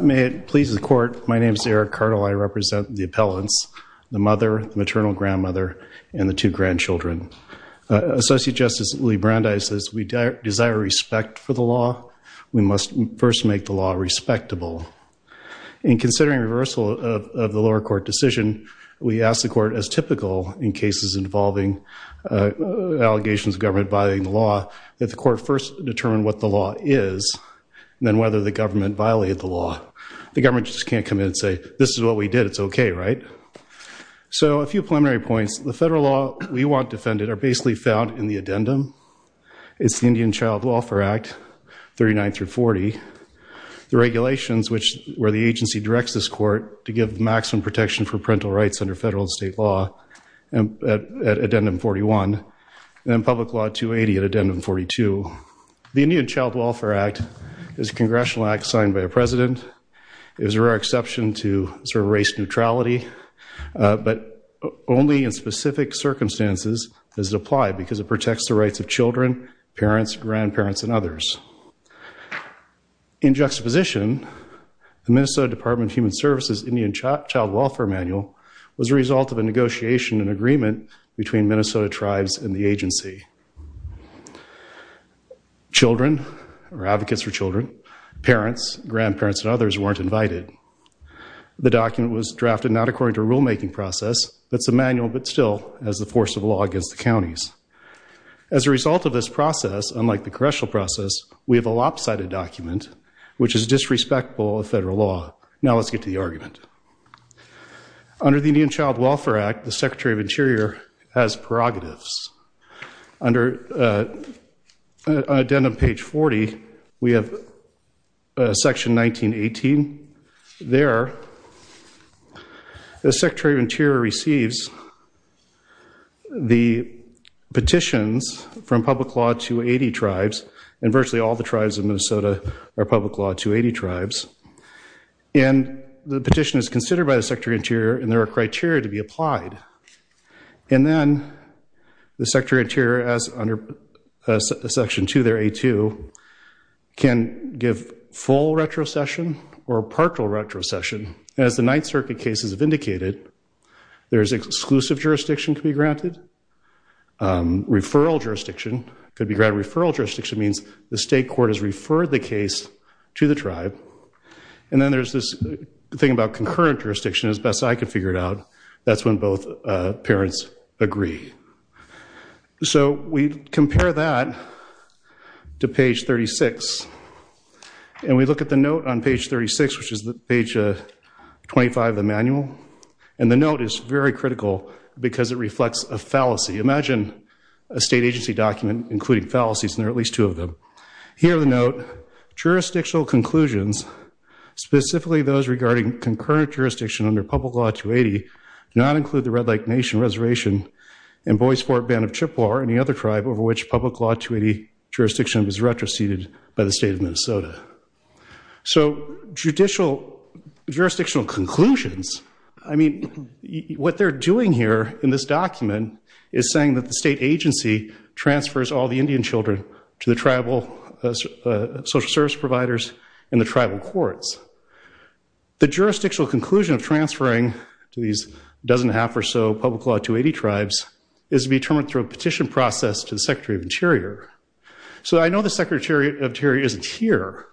May it please the court, my name is Eric Cartl. I represent the appellants, the mother, maternal grandmother, and the two grandchildren. Associate Justice Lee Brandeis says we desire respect for the law. We must first make the law respectable. In considering reversal of the lower court decision, we ask the court, as typical in cases involving allegations of government violating the law, that the court first determine what the law is, and then whether the government violated the law. The government just can't come in and say, this is what we did, it's okay, right? So a few preliminary points. The federal law we want defended are basically found in the addendum. It's the Indian Child Welfare Act, 39 through 40. The regulations which, where the agency directs this court to give maximum protection for parental rights under federal and state law, at public law 280 at addendum 42. The Indian Child Welfare Act is a congressional act signed by a president. It was a rare exception to sort of race neutrality, but only in specific circumstances does it apply, because it protects the rights of children, parents, grandparents, and others. In juxtaposition, the Minnesota Department of Human Services Indian Child Welfare Manual was a result of a decision by the federal agency. Children, or advocates for children, parents, grandparents, and others weren't invited. The document was drafted not according to a rulemaking process, but it's a manual, but still as the force of law against the counties. As a result of this process, unlike the congressional process, we have a lopsided document, which is disrespectful of federal law. Now let's get to the argument. Under the Indian Child Welfare Act, the Secretary of Interior, under addendum page 40, we have section 1918. There, the Secretary of Interior receives the petitions from public law 280 tribes, and virtually all the tribes of Minnesota are public law 280 tribes. And the petition is considered by the Secretary of Interior, and there are criteria to be applied. And then the tribes, under section 2 there, A2, can give full retrocession or partial retrocession. As the Ninth Circuit cases have indicated, there's exclusive jurisdiction to be granted. Referral jurisdiction could be granted. Referral jurisdiction means the state court has referred the case to the tribe. And then there's this thing about concurrent jurisdiction, as best I could figure it out. That's when both parents agree. So we compare that to page 36, and we look at the note on page 36, which is the page 25 of the manual. And the note is very critical because it reflects a fallacy. Imagine a state agency document including fallacies, and there are at least two of them. Here in the note, jurisdictional conclusions, specifically those regarding concurrent jurisdiction under public law 280, do not include the Red Lake Nation Reservation and Bois Forte Band of Chippewa or any other tribe over which public law 280 jurisdiction was retroceded by the state of Minnesota. So judicial jurisdictional conclusions, I mean, what they're doing here in this document is saying that the state agency transfers all the Indian children to the tribal social service providers in the state of Minnesota. So what they're transferring to these dozen and a half or so public law 280 tribes is to be determined through a petition process to the Secretary of Interior. So I know the Secretary of Interior isn't here,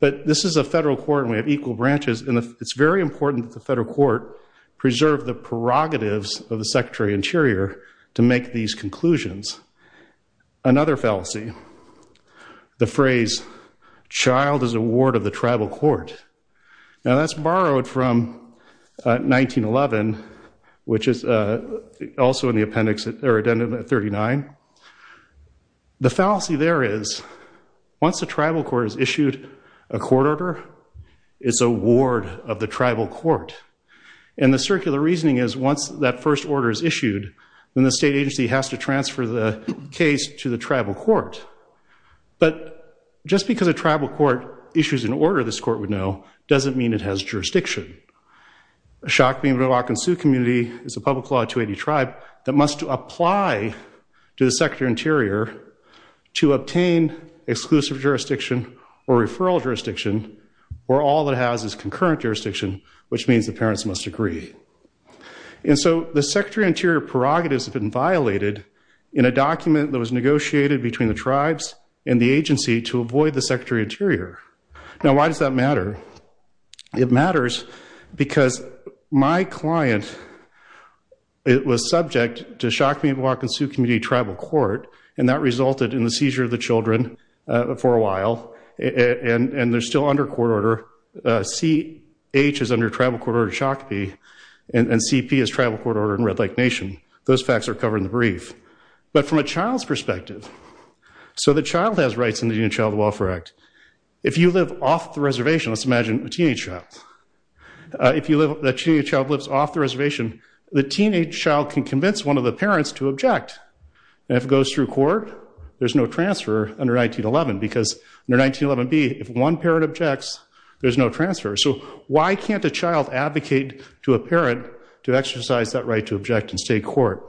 but this is a federal court and we have equal branches, and it's very important that the federal court preserve the prerogatives of the Secretary of Interior to make these conclusions. Another fallacy, the phrase, child is a ward of the tribal court. Now that's 1911, which is also in the appendix or addendum 39. The fallacy there is, once the tribal court has issued a court order, it's a ward of the tribal court. And the circular reasoning is once that first order is issued, then the state agency has to transfer the case to the tribal court. But just because a tribal court has issues in order, this court would know, doesn't mean it has jurisdiction. The Shakopee Mdewakensu community is a public law 280 tribe that must apply to the Secretary of Interior to obtain exclusive jurisdiction or referral jurisdiction, where all it has is concurrent jurisdiction, which means the parents must agree. And so the Secretary of Interior prerogatives have been violated in a document that was negotiated between the tribes and the agency to Now why does that matter? It matters because my client, it was subject to Shakopee Mdewakensu community tribal court, and that resulted in the seizure of the children for a while, and they're still under court order. CH is under tribal court order Shakopee, and CP is tribal court order in Red Lake Nation. Those facts are covered in the brief. But from a child's perspective, so the child has rights in the Indian Child Welfare Act. If you live off the reservation, let's imagine a teenage child. If you live, that teenage child lives off the reservation, the teenage child can convince one of the parents to object. And if it goes through court, there's no transfer under 1911, because under 1911b, if one parent objects, there's no transfer. So why can't a child advocate to a parent to exercise that right to object and stay court?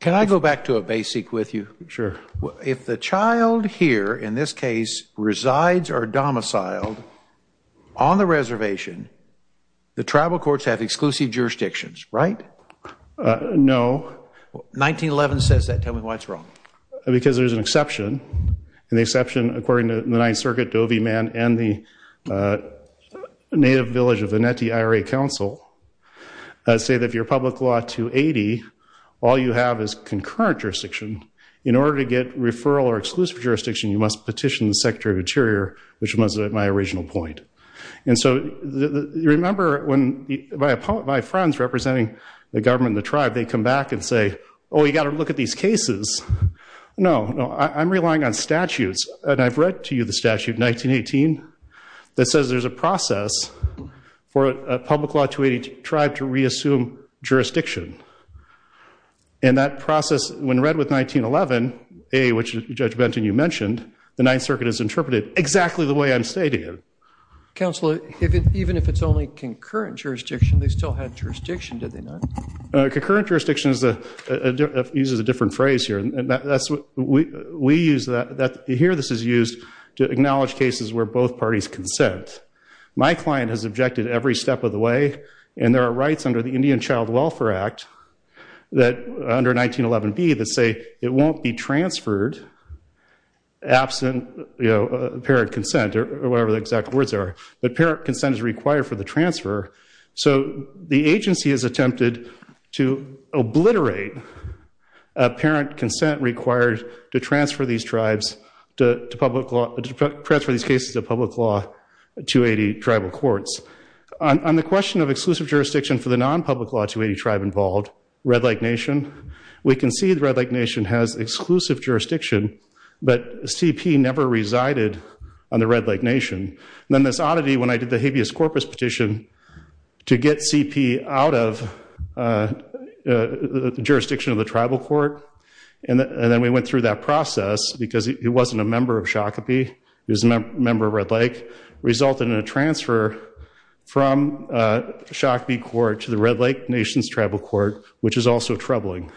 Can I go back to a basic with you? Sure. If the child here, in this case, resides or domiciled on the reservation, the tribal courts have exclusive jurisdictions, right? No. 1911 says that. Tell me what's wrong. Because there's an exception, and the exception, according to the Ninth Circuit, Doveyman and the All you have is concurrent jurisdiction. In order to get referral or exclusive jurisdiction, you must petition the Secretary of the Interior, which was my original point. And so, remember, when my friends representing the government, the tribe, they come back and say, oh, you got to look at these cases. No, no, I'm relying on statutes. And I've read to you the statute, 1918, that says there's a process for a public law 280 tribe to reassume jurisdiction. And that process, when read with 1911a, which Judge Benton, you mentioned, the Ninth Circuit has interpreted exactly the way I'm stating it. Counselor, even if it's only concurrent jurisdiction, they still had jurisdiction, did they not? Concurrent jurisdiction uses a different phrase here, and that's what we use. Here, this is used to acknowledge cases where both parties consent. My client has objected every step of the way, and there are rights under the Indian Child Welfare Act, under 1911b, that say it won't be transferred absent parent consent, or whatever the exact words are. But parent consent is required for the transfer. So the agency has attempted to obliterate a parent consent required to transfer these tribes to public law, to transfer these cases of public law 280 tribal courts. On the question of exclusive jurisdiction for the non-public law 280 tribe involved, Red Lake Nation, we can see the Red Lake Nation has exclusive jurisdiction, but CP never resided on the Red Lake Nation. Then this oddity, when I did the habeas corpus petition to get CP out of the jurisdiction of the tribal court, and then we went through that process, because he wasn't a member of Shakopee, he was a member of Red Lake, resulted in a transfer from Shakopee court to the Red Lake Nation's tribal court, which is also troubling.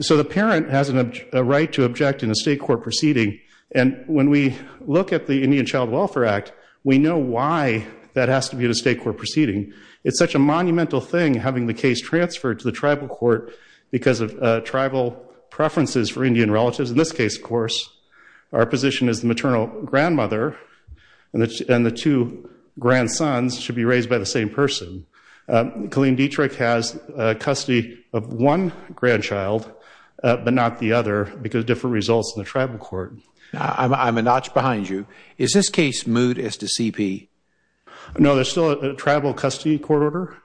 So the parent has a right to object in a state court proceeding, and when we look at the Indian Child Welfare Act, we know why that has to be in a state court proceeding. It's such a monumental thing having the case transferred to the tribal court because of tribal preferences for Indian relatives. In this case, of course, our position is the maternal grandmother and the two grandsons should be raised by the same person. Colleen Dietrich has custody of one grandchild, but not the other, because of different results in the tribal court. I'm a notch behind you. Is this case moot as to CP? No, there's still a tribal custody court order,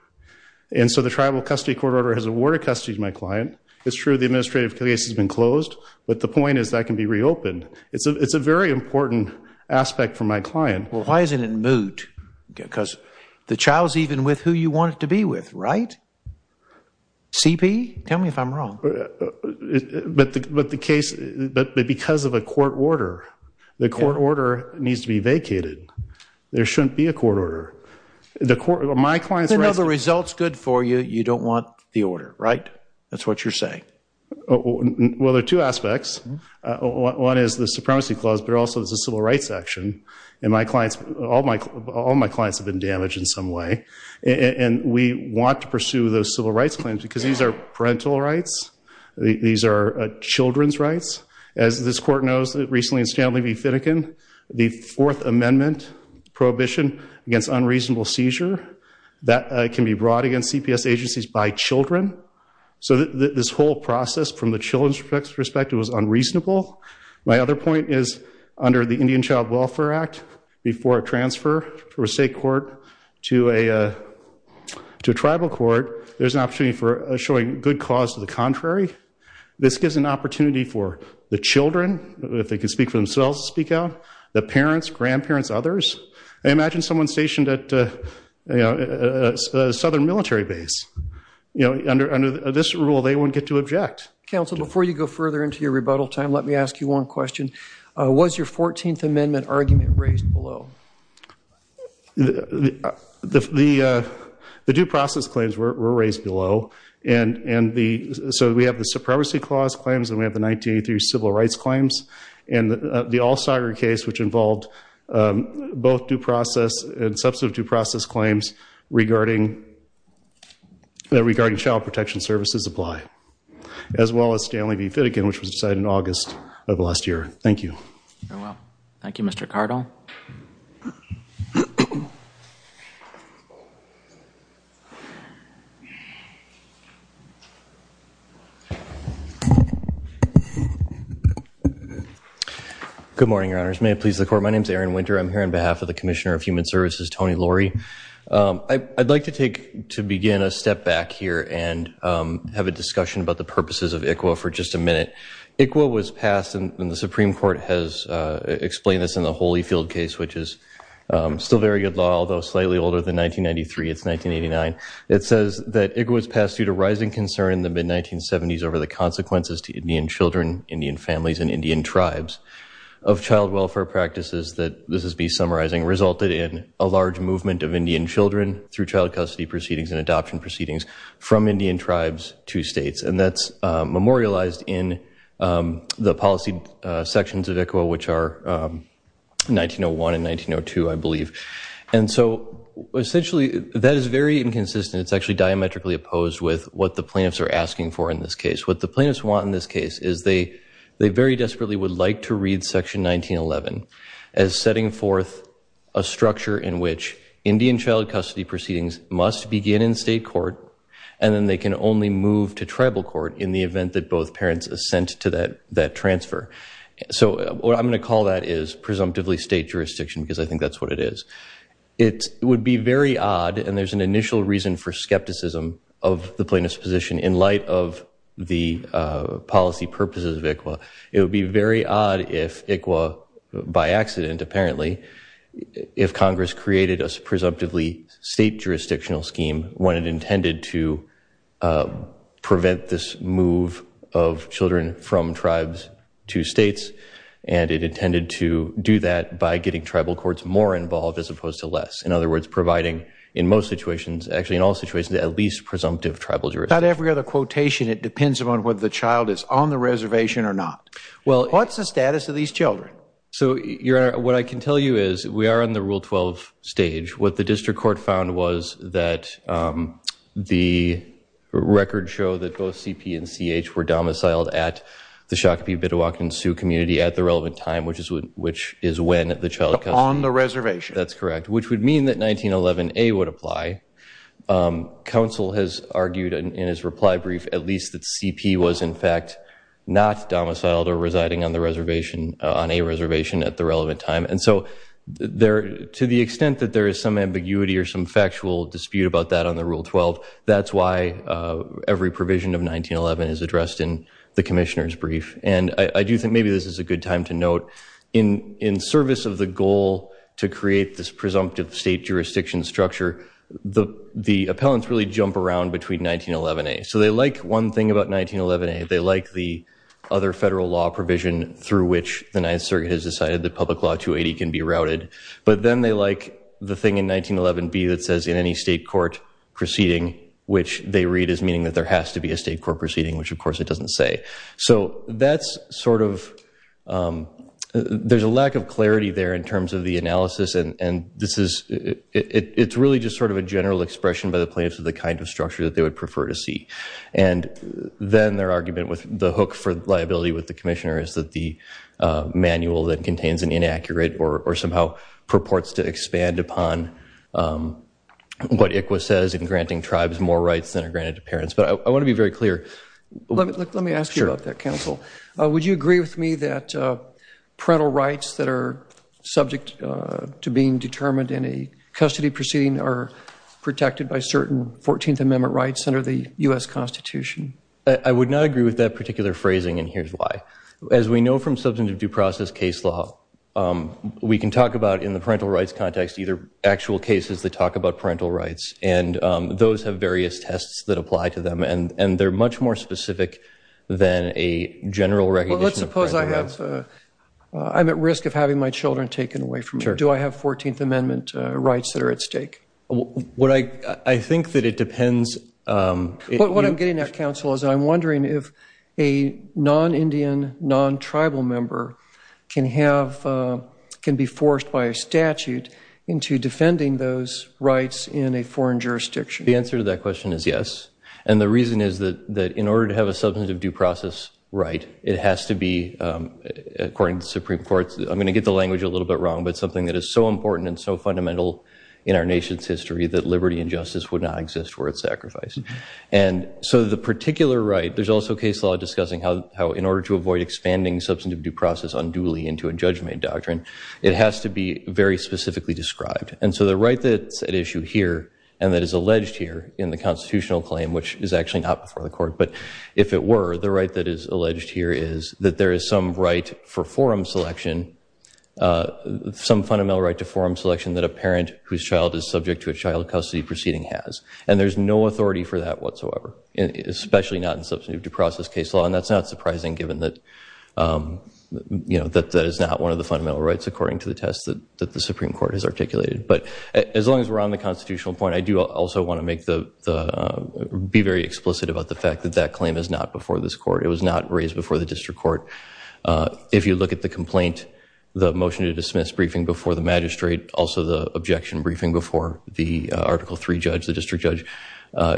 and so the tribal custody court order has awarded custody to my client. It's true the administrative case has been closed, but the point is that can be reopened. It's a very important aspect for my client. Well, why isn't it moot? Because the child's even with who you want it to be with, right? CP? Tell me if I'm wrong. But the case, but because of a court order, the court order needs to be vacated. There shouldn't be a court order. The court, my client's right. You know the result's good for you, you don't want the order, right? That's what you're saying. Well, there are two aspects. One is the Supremacy Clause, but also there's a civil rights action, and my clients, all my clients have been damaged in some way, and we want to protect their rights. These are children's rights. As this court knows, recently in Stanley v. Finnegan, the Fourth Amendment prohibition against unreasonable seizure, that can be brought against CPS agencies by children. So this whole process, from the children's perspective, was unreasonable. My other point is, under the Indian Child Welfare Act, before a transfer from a state court to a tribal court, there's an issue of showing good cause to the contrary. This gives an opportunity for the children, if they can speak for themselves, to speak out, the parents, grandparents, others. Imagine someone stationed at a southern military base. Under this rule, they wouldn't get to object. Counsel, before you go further into your rebuttal time, let me ask you one question. Was your 14th Amendment argument raised below? The due process claims were raised below, and so we have the Supremacy Clause claims, and we have the 1983 Civil Rights claims, and the All-Star case, which involved both due process and substantive due process claims regarding child protection services apply, as well as Stanley v. Finnegan, which was decided in August of last year. Thank you. Good morning, Your Honors. May it please the Court, my name is Aaron Winter. I'm here on behalf of the Commissioner of Human Services, Tony Laurie. I'd like to begin a step back here and have a little bit of background. The Supreme Court has explained this in the Holyfield case, which is still very good law, although slightly older than 1993, it's 1989. It says that Igwiz passed due to rising concern in the mid-1970s over the consequences to Indian children, Indian families, and Indian tribes of child welfare practices, that this is me summarizing, resulted in a large movement of Indian children through child custody proceedings and adoption proceedings from Indian tribes to states. And that's memorialized in the policy sections of ICWA, which are 1901 and 1902, I believe. And so, essentially, that is very inconsistent. It's actually diametrically opposed with what the plaintiffs are asking for in this case. What the plaintiffs want in this case is they very desperately would like to read section 1911 as setting forth a structure in which Indian child custody proceedings must begin in state court and then they can only move to tribal court in the event that both parents assent to that transfer. So what I'm going to call that is presumptively state jurisdiction, because I think that's what it is. It would be very odd, and there's an initial reason for skepticism of the plaintiffs' position in light of the policy purposes of ICWA by accident, apparently, if Congress created a presumptively state jurisdictional scheme when it intended to prevent this move of children from tribes to states, and it intended to do that by getting tribal courts more involved as opposed to less. In other words, providing, in most situations, actually in all situations, at least presumptive tribal jurisdiction. It's not every other quotation. It depends upon whether the child is on the reservation or not. What's the status of these children? What I can tell you is we are on the Rule 12 stage. What the district court found was that the records show that both C.P. and C.H. were domiciled at the Shakopee Bidewalkin Sioux community at the relevant time, which is when the child custody... in his reply brief, at least that C.P. was, in fact, not domiciled or residing on the reservation, on a reservation at the relevant time, and so to the extent that there is some ambiguity or some factual dispute about that on the Rule 12, that's why every provision of 1911 is addressed in the commissioner's brief, and I do think maybe this is a good time to note, in service of the goal to create this So they like one thing about 1911A. They like the other federal law provision through which the Ninth Circuit has decided that Public Law 280 can be routed, but then they like the thing in 1911B that says in any state court proceeding, which they read as meaning that there has to be a state court proceeding, which of course it doesn't say. So that's sort of... there's a lack of clarity there in terms of the analysis, and this is... it's really just sort of a general expression by the plaintiffs of the kind of structure that they would prefer to see. And then their argument with the hook for liability with the commissioner is that the manual that contains an inaccurate or somehow purports to expand upon what ICWA says in granting tribes more rights than are granted to parents. But I want to be very clear... Let me ask you about that, counsel. Would you agree with me that parental rights that are subject to being determined in a custody proceeding are protected by certain 14th Amendment rights under the U.S. Constitution? I would not agree with that particular phrasing, and here's why. As we know from substantive due process case law, we can talk about in the parental rights context either actual cases that talk about parental rights, and those have various tests that I'm at risk of having my children taken away from me. Do I have 14th Amendment rights that are at stake? I think that it depends... What I'm getting at, counsel, is I'm wondering if a non-Indian, non-tribal member can have... can be forced by a statute into defending those rights in a foreign jurisdiction. The answer to that question is yes. And the reason is that in order to have a substantive due process right, it has to be according to the Supreme Court's... I'm going to get the language a little bit wrong, but something that is so important and so fundamental in our nation's history that liberty and justice would not exist were it sacrificed. And so the particular right... There's also case law discussing how in order to avoid expanding substantive due process unduly into a judgment doctrine, it has to be very specifically described. And so the right that's at issue here and that is alleged here in the constitutional claim, which is actually not before the court, but if it were, the right that is alleged here is that there is some right for forum selection, some fundamental right to forum selection that a parent whose child is subject to a child custody proceeding has. And there's no authority for that whatsoever, especially not in substantive due process case law. And that's not surprising given that that is not one of the fundamental rights according to the test that the Supreme Court has articulated. But as long as we're on the constitutional point, I do also want to make the... be very explicit about the fact that that claim is not before this court. It was not raised before the district court. If you look at the complaint, the motion to dismiss briefing before the magistrate, also the objection briefing before the Article III judge, the district judge,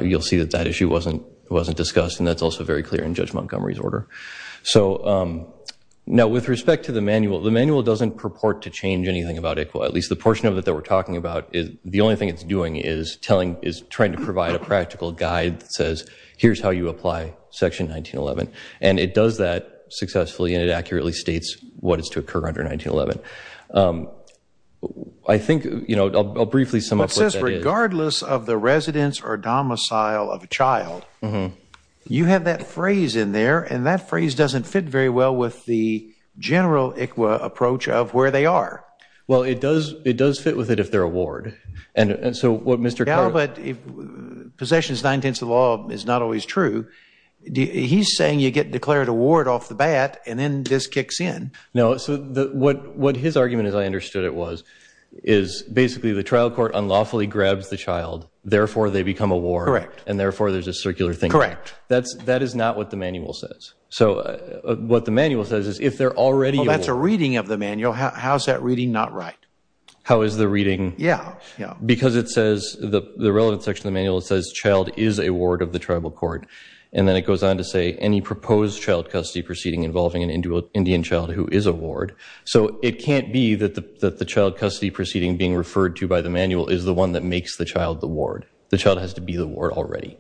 you'll see that that issue wasn't discussed and that's also very clear in Judge Montgomery's order. Now with respect to the manual, the manual doesn't purport to change anything about ICWA. At least the portion of it that we're talking about, the only thing it's doing is trying to provide a practical guide that says here's how you apply Section 1911. And it does that successfully and it accurately states what is to occur under 1911. I think, you know, I'll briefly sum up what that is. But it says regardless of the residence or domicile of a child, you have that phrase in there and that phrase doesn't fit very well with the general ICWA approach of where they are. Well, it does fit with it if they're a ward. And so what Mr. Kerr... Yeah, but Possessions 910 is not always true. He's saying you get declared a ward off the bat and then this basically the trial court unlawfully grabs the child, therefore they become a ward and therefore there's a circular thing. Correct. That is not what the manual says. So what the manual says is if they're already a ward. Well, that's a reading of the manual. How is that reading not right? How is the reading... Yeah. Because it says, the relevant section of the manual says child is a ward of the tribal court. And then it goes on to say any proposed child custody proceeding involving an individual Indian child who is a ward. So it can't be that the child custody proceeding being referred to by the manual is the one that makes the child the ward. The child has to be the ward already.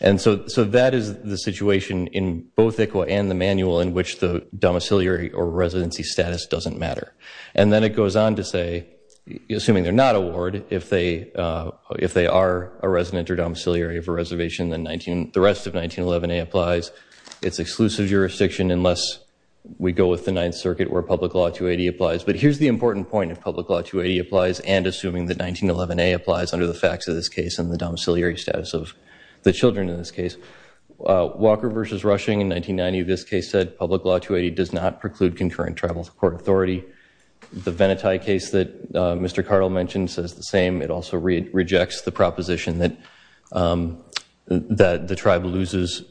And so that is the situation in both ICWA and the manual in which the domiciliary or residency status doesn't matter. And then it goes on to say, assuming they're not a ward, if they are a resident or domiciliary of a reservation then the rest of 1911A applies. It's exclusive jurisdiction unless we go with the Ninth Circuit where Public Law 280 applies. But here's the important point of Public Law 280 applies and assuming that 1911A applies under the facts of this case and the domiciliary status of the children in this case. Walker v. Rushing in 1990 of this case said, Public Law 280 does not preclude concurrent tribal court authority. The Venati case that Mr. Rushing made rejects the proposition that the tribe loses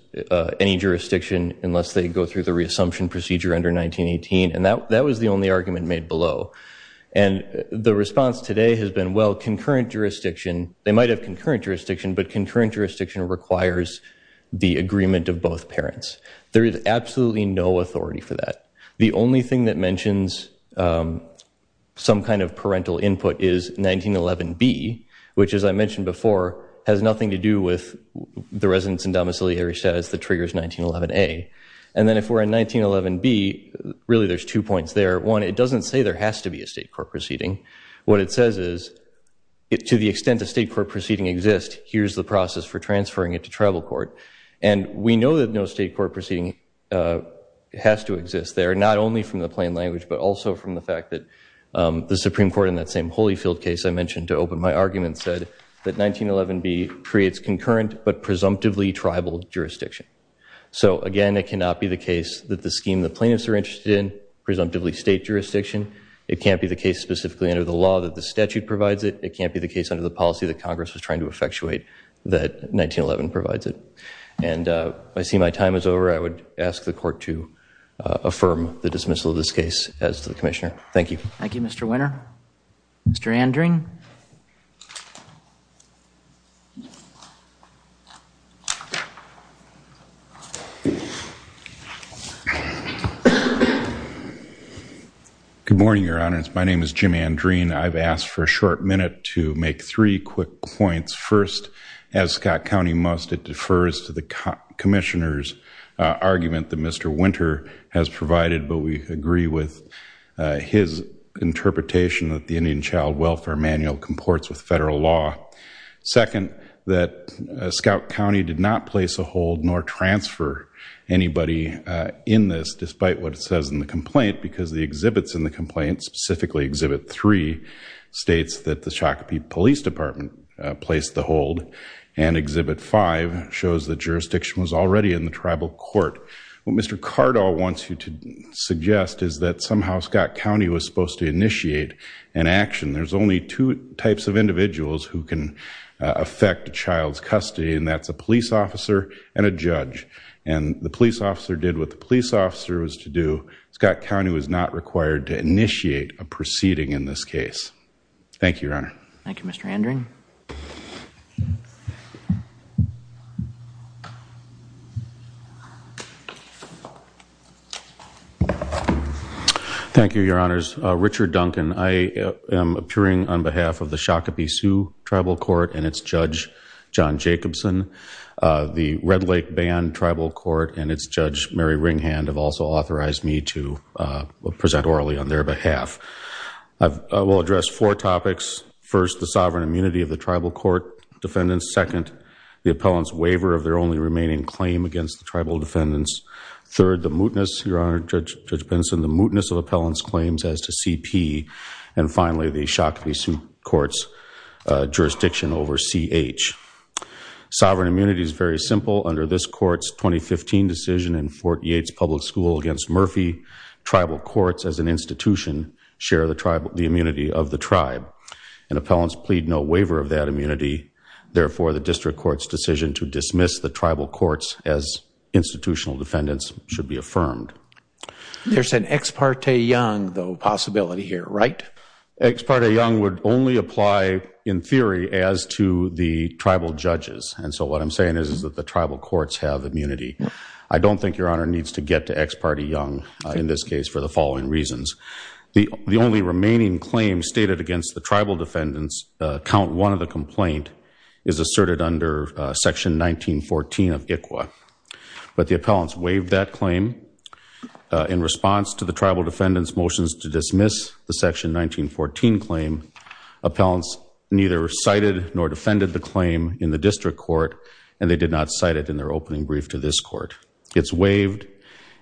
any jurisdiction unless they go through the reassumption procedure under 1918. And that was the only argument made below. And the response today has been, well, concurrent jurisdiction, they might have concurrent jurisdiction, but concurrent jurisdiction requires the agreement of both parents. There is absolutely no authority for that. The only thing that mentions some kind of parental input is 1911B, which as I mentioned before, has nothing to do with the residents and domiciliary status that triggers 1911A. And then if we're in 1911B, really there's two points there. One, it doesn't say there has to be a state court proceeding. What it says is, to the extent a state court proceeding exists, here's the process for transferring it to tribal court. And we know that no state court proceeding has to exist there, not only from the plain language, but also from the fact that the Supreme Court in that same Holyfield case I mentioned to open my argument said that 1911B creates concurrent but presumptively tribal jurisdiction. So again, it cannot be the case that the scheme the plaintiffs are interested in, presumptively state jurisdiction. It can't be the case specifically under the law that the statute provides it. It can't be the case under the policy that Congress was trying to effectuate that 1911 provides it. And I see my time is over. I would ask the court to affirm the dismissal of this case as to the Commissioner. Thank you. Thank you, Mr. Winner. Mr. Andreen. Good morning, Your Honors. My name is Jim Andreen. I've asked for a short minute to make three quick points. First, as Scott County must, it defers to the Commissioner's argument that Mr. Winter has provided, but we agree with his interpretation that the Indian Child Welfare Manual comports with federal law. Second, that Scott County did not place a hold nor transfer anybody in this, despite what it says in the complaint, because the exhibits in the complaint, specifically Exhibit 3, states that the Shakopee Police Department placed the hold, and Exhibit 5 shows that jurisdiction was already in the tribal court. What Mr. Cardall wants you to suggest is that somehow Scott County was supposed to initiate an action. There's only two types of individuals who can affect a child's custody, and that's a police officer and a judge. And the police officer can't initiate a proceeding in this case. Thank you, Your Honor. Thank you, Mr. Andreen. Thank you, Your Honors. Richard Duncan. I am appearing on behalf of the Shakopee Sioux Tribal Court and its Judge John Jacobson. The Red Lake Bayon Tribal Court and its Judge Mary Ringhand have also authorized me to present this case. I will address four topics. First, the sovereign immunity of the tribal court defendants. Second, the appellant's waiver of their only remaining claim against the tribal defendants. Third, the mootness, Your Honor, Judge Benson, the mootness of appellant's claims as to CP. And finally, the Shakopee Sioux Court's jurisdiction over CH. Sovereign immunity is very simple. Under this court's jurisdiction, appellants and institution share the immunity of the tribe. And appellants plead no waiver of that immunity. Therefore, the district court's decision to dismiss the tribal courts as institutional defendants should be affirmed. There's an ex parte young, though, possibility here, right? Ex parte young would only apply in theory as to the tribal judges. And so what I'm saying is that the tribal courts have immunity. I don't think Your Honor needs to get to ex parte young in this case for the following reasons. The only remaining claim stated against the tribal defendants, count one of the complaint, is asserted under section 1914 of ICWA. But the appellants waived that claim. In response to the tribal defendants' motions to dismiss the section 1914 claim, appellants neither cited nor defended the claim in the district court, and they did not cite it in their opening brief to this court. It's waived.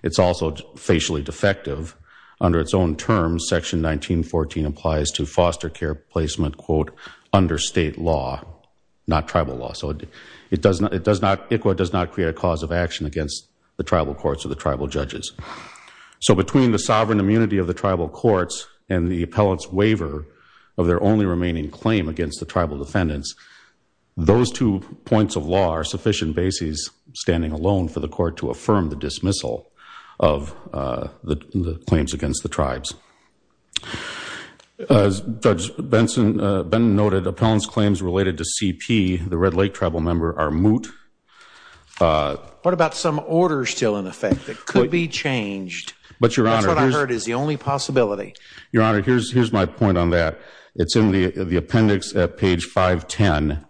It's also facially defective. Under its own terms, section 1914 applies to foster care placement, quote, under state law, not tribal law. So ICWA does not create a cause of action against the tribal courts or the tribal judges. So between the sovereign immunity of the tribal courts and the appellant's waiver of their only remaining claim against the tribal defendants, those two points of law are sufficient bases standing alone for the court to affirm the dismissal of the claims against the tribes. As Judge Benson noted, appellant's claims related to CP, the Red Lake tribal member, are moot. What about some Your Honor, here's my point on that. It's in the appendix at page 510.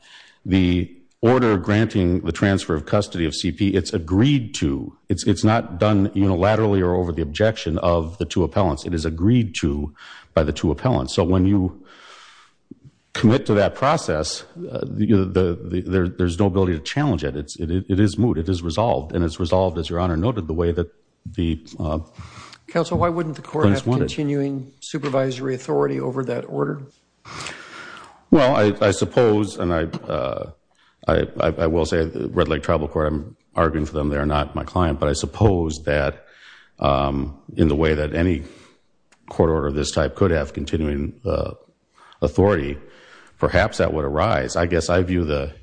The order granting the transfer of custody of CP, it's agreed to. It's not done unilaterally or over the objection of the two appellants. It is agreed to by the two appellants. So when you commit to that process, there's no ability to challenge it. It is moot. It is resolved. And it's resolved, as Your Honor noted, the way that the Counsel, why wouldn't the court have continuing supervisory authority over that order? Well, I suppose, and I will say the Red Lake tribal court, I'm arguing for them. They're not my client. But I suppose that in the way that any court order of this type could have continuing authority, perhaps that would arise. I guess I view the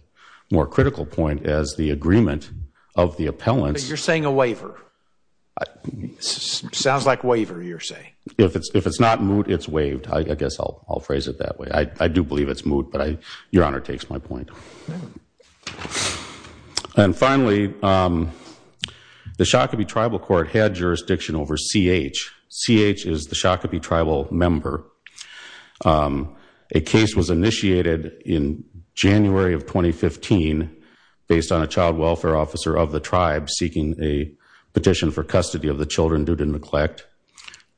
more critical point as the agreement of the appellants. But you're saying a waiver. Sounds like waiver, you're saying. If it's not moot, it's waived. I guess I'll phrase it that way. I do believe it's moot, but Your Honor takes my point. And finally, the Shakopee tribal court had jurisdiction over CH. CH is the Shakopee tribal member. A case was initiated in January of 2015 based on a child welfare officer of the tribe seeking a petition for custody of the children due to neglect.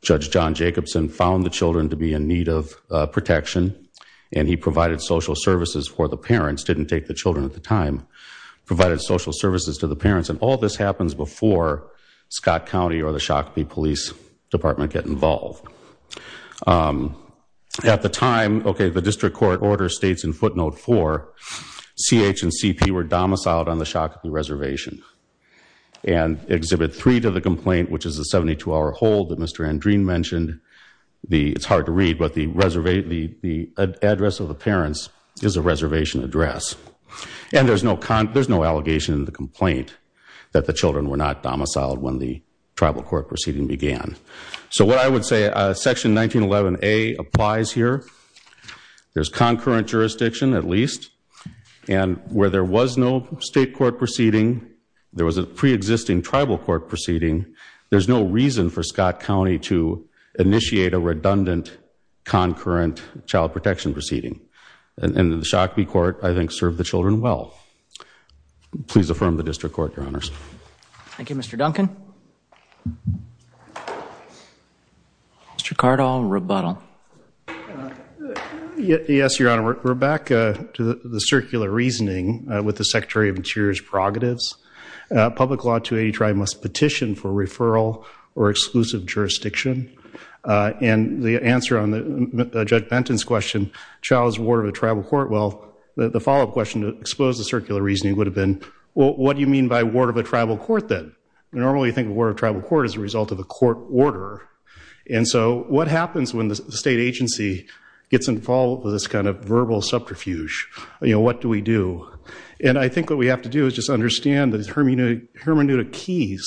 Judge John Jacobson found the children to be in need of protection, and he provided social services for the parents, didn't take the children at the time, provided social services to the parents. And all this happens before Scott County or the Shakopee Police Department get involved. At the time, okay, the district court order states in footnote 4, CH and CP were domiciled on the Shakopee reservation. And Exhibit 3 to the complaint, which is a 72-hour hold that Mr. Andreen mentioned, it's hard to read, but the address of the parents is a reservation address. And there's no allegation in the complaint that the children were not So what I would say, Section 1911A applies here. There's concurrent jurisdiction, at least. And where there was no state court proceeding, there was a pre-existing tribal court proceeding, there's no reason for Scott County to initiate a redundant concurrent child protection proceeding. And the Shakopee court, I think, served the children well. Please affirm the district court, Your Honors. Thank you, Mr. Duncan. Mr. Cardall, rebuttal. Yes, Your Honor. We're back to the circular reasoning with the Secretary of Interior's prerogatives. Public Law 283 must petition for referral or exclusive jurisdiction. And the answer on Judge Benton's question, child is a ward of a tribal court, well, the follow-up question to expose the circular reasoning would have been, what do you mean by ward of a tribal court, then? Normally you think of ward of a tribal court as a result of a court order. And so what happens when the state agency gets involved with this kind of verbal subterfuge? What do we do? And I think what we have to do is just understand that the hermeneutic keys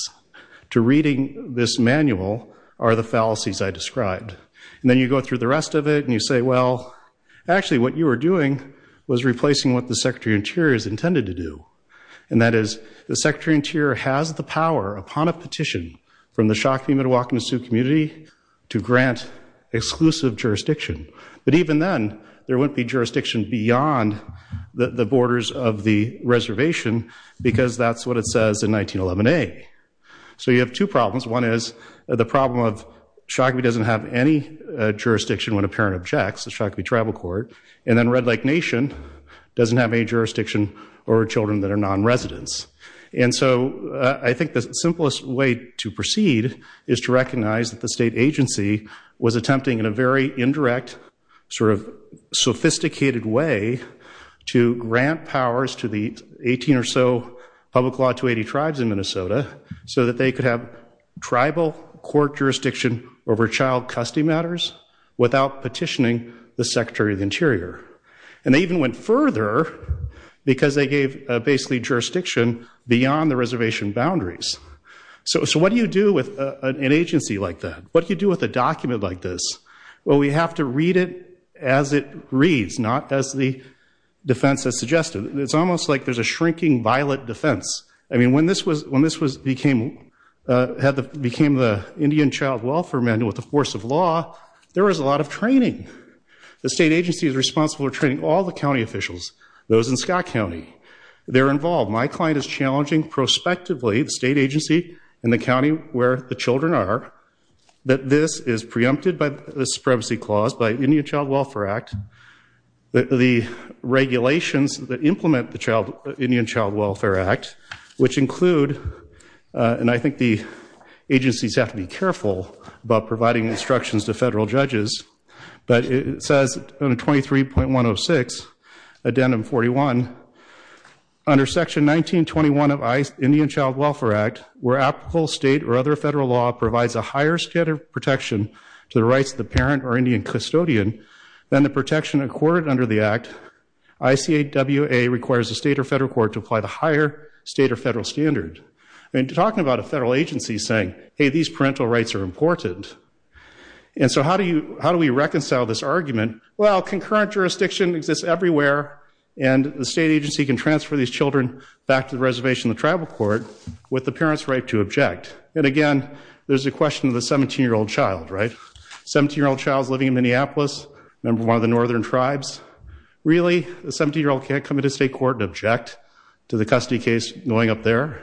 to reading this manual are the fallacies I described. And then you go through the rest of it and you say, well, actually what you were doing was replacing what the Secretary of Interior intended to do. And that is, the Secretary of Interior has the power upon a petition from the Shakopee Mdewakanton Sioux community to grant exclusive jurisdiction. But even then, there wouldn't be jurisdiction beyond the borders of the reservation because that's what it says in 1911A. So you have two problems. One is the problem of Shakopee doesn't have any jurisdiction when a parent objects, the Shakopee tribal court, and then Red Lake Nation doesn't have any jurisdiction over children that are non-residents. And so I think the simplest way to proceed is to recognize that the state agency was attempting in a very indirect, sort of sophisticated way to grant powers to the 18 or so public law 280 tribes in Minnesota so that they could have tribal court jurisdiction over child custody matters without petitioning the Secretary of the Interior. And they even went further because they gave basically jurisdiction beyond the reservation boundaries. So what do you do with an agency like that? What do you do with a document like this? Well, we have to read it as it reads, not as the defense has suggested. It's almost like there's a shrinking violet defense. I mean, when this became the Indian Child Welfare Manual with the force of law, there was a lot of training. The state agency is responsible for training all the county officials, those in Scott County. They're involved. My client is challenging prospectively the state agency and the county where the children are that this is preempted by the Supremacy Clause, by the Indian Child Welfare Act. The regulations that implement the Indian Child Welfare Act, which include and I think the agencies have to be careful about providing instructions to federal judges, but it says 23.106 addendum 41, under section 1921 of Indian Child Welfare Act, where applicable state or other federal law provides a higher standard of protection to the rights of the parent or Indian custodian than the protection accorded under the act, ICAWA requires the state or federal court to apply the higher state or federal standard. I mean, talking about a federal agency saying, hey, these parental rights are important. And so how do we reconcile this argument? Well, concurrent jurisdiction exists everywhere and the state agency can transfer these children back to the reservation of the tribal court with the parent's right to object. And again, there's a question of the 17-year-old child, right? 17-year-old child's living in Minneapolis, member of one of the northern tribes. Really, a 17-year-old can't come into state court and object to the custody case going up there?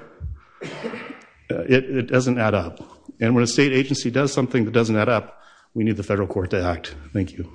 It doesn't add up. And when a state agency does something that doesn't add up, we need the federal court to act. Thank you.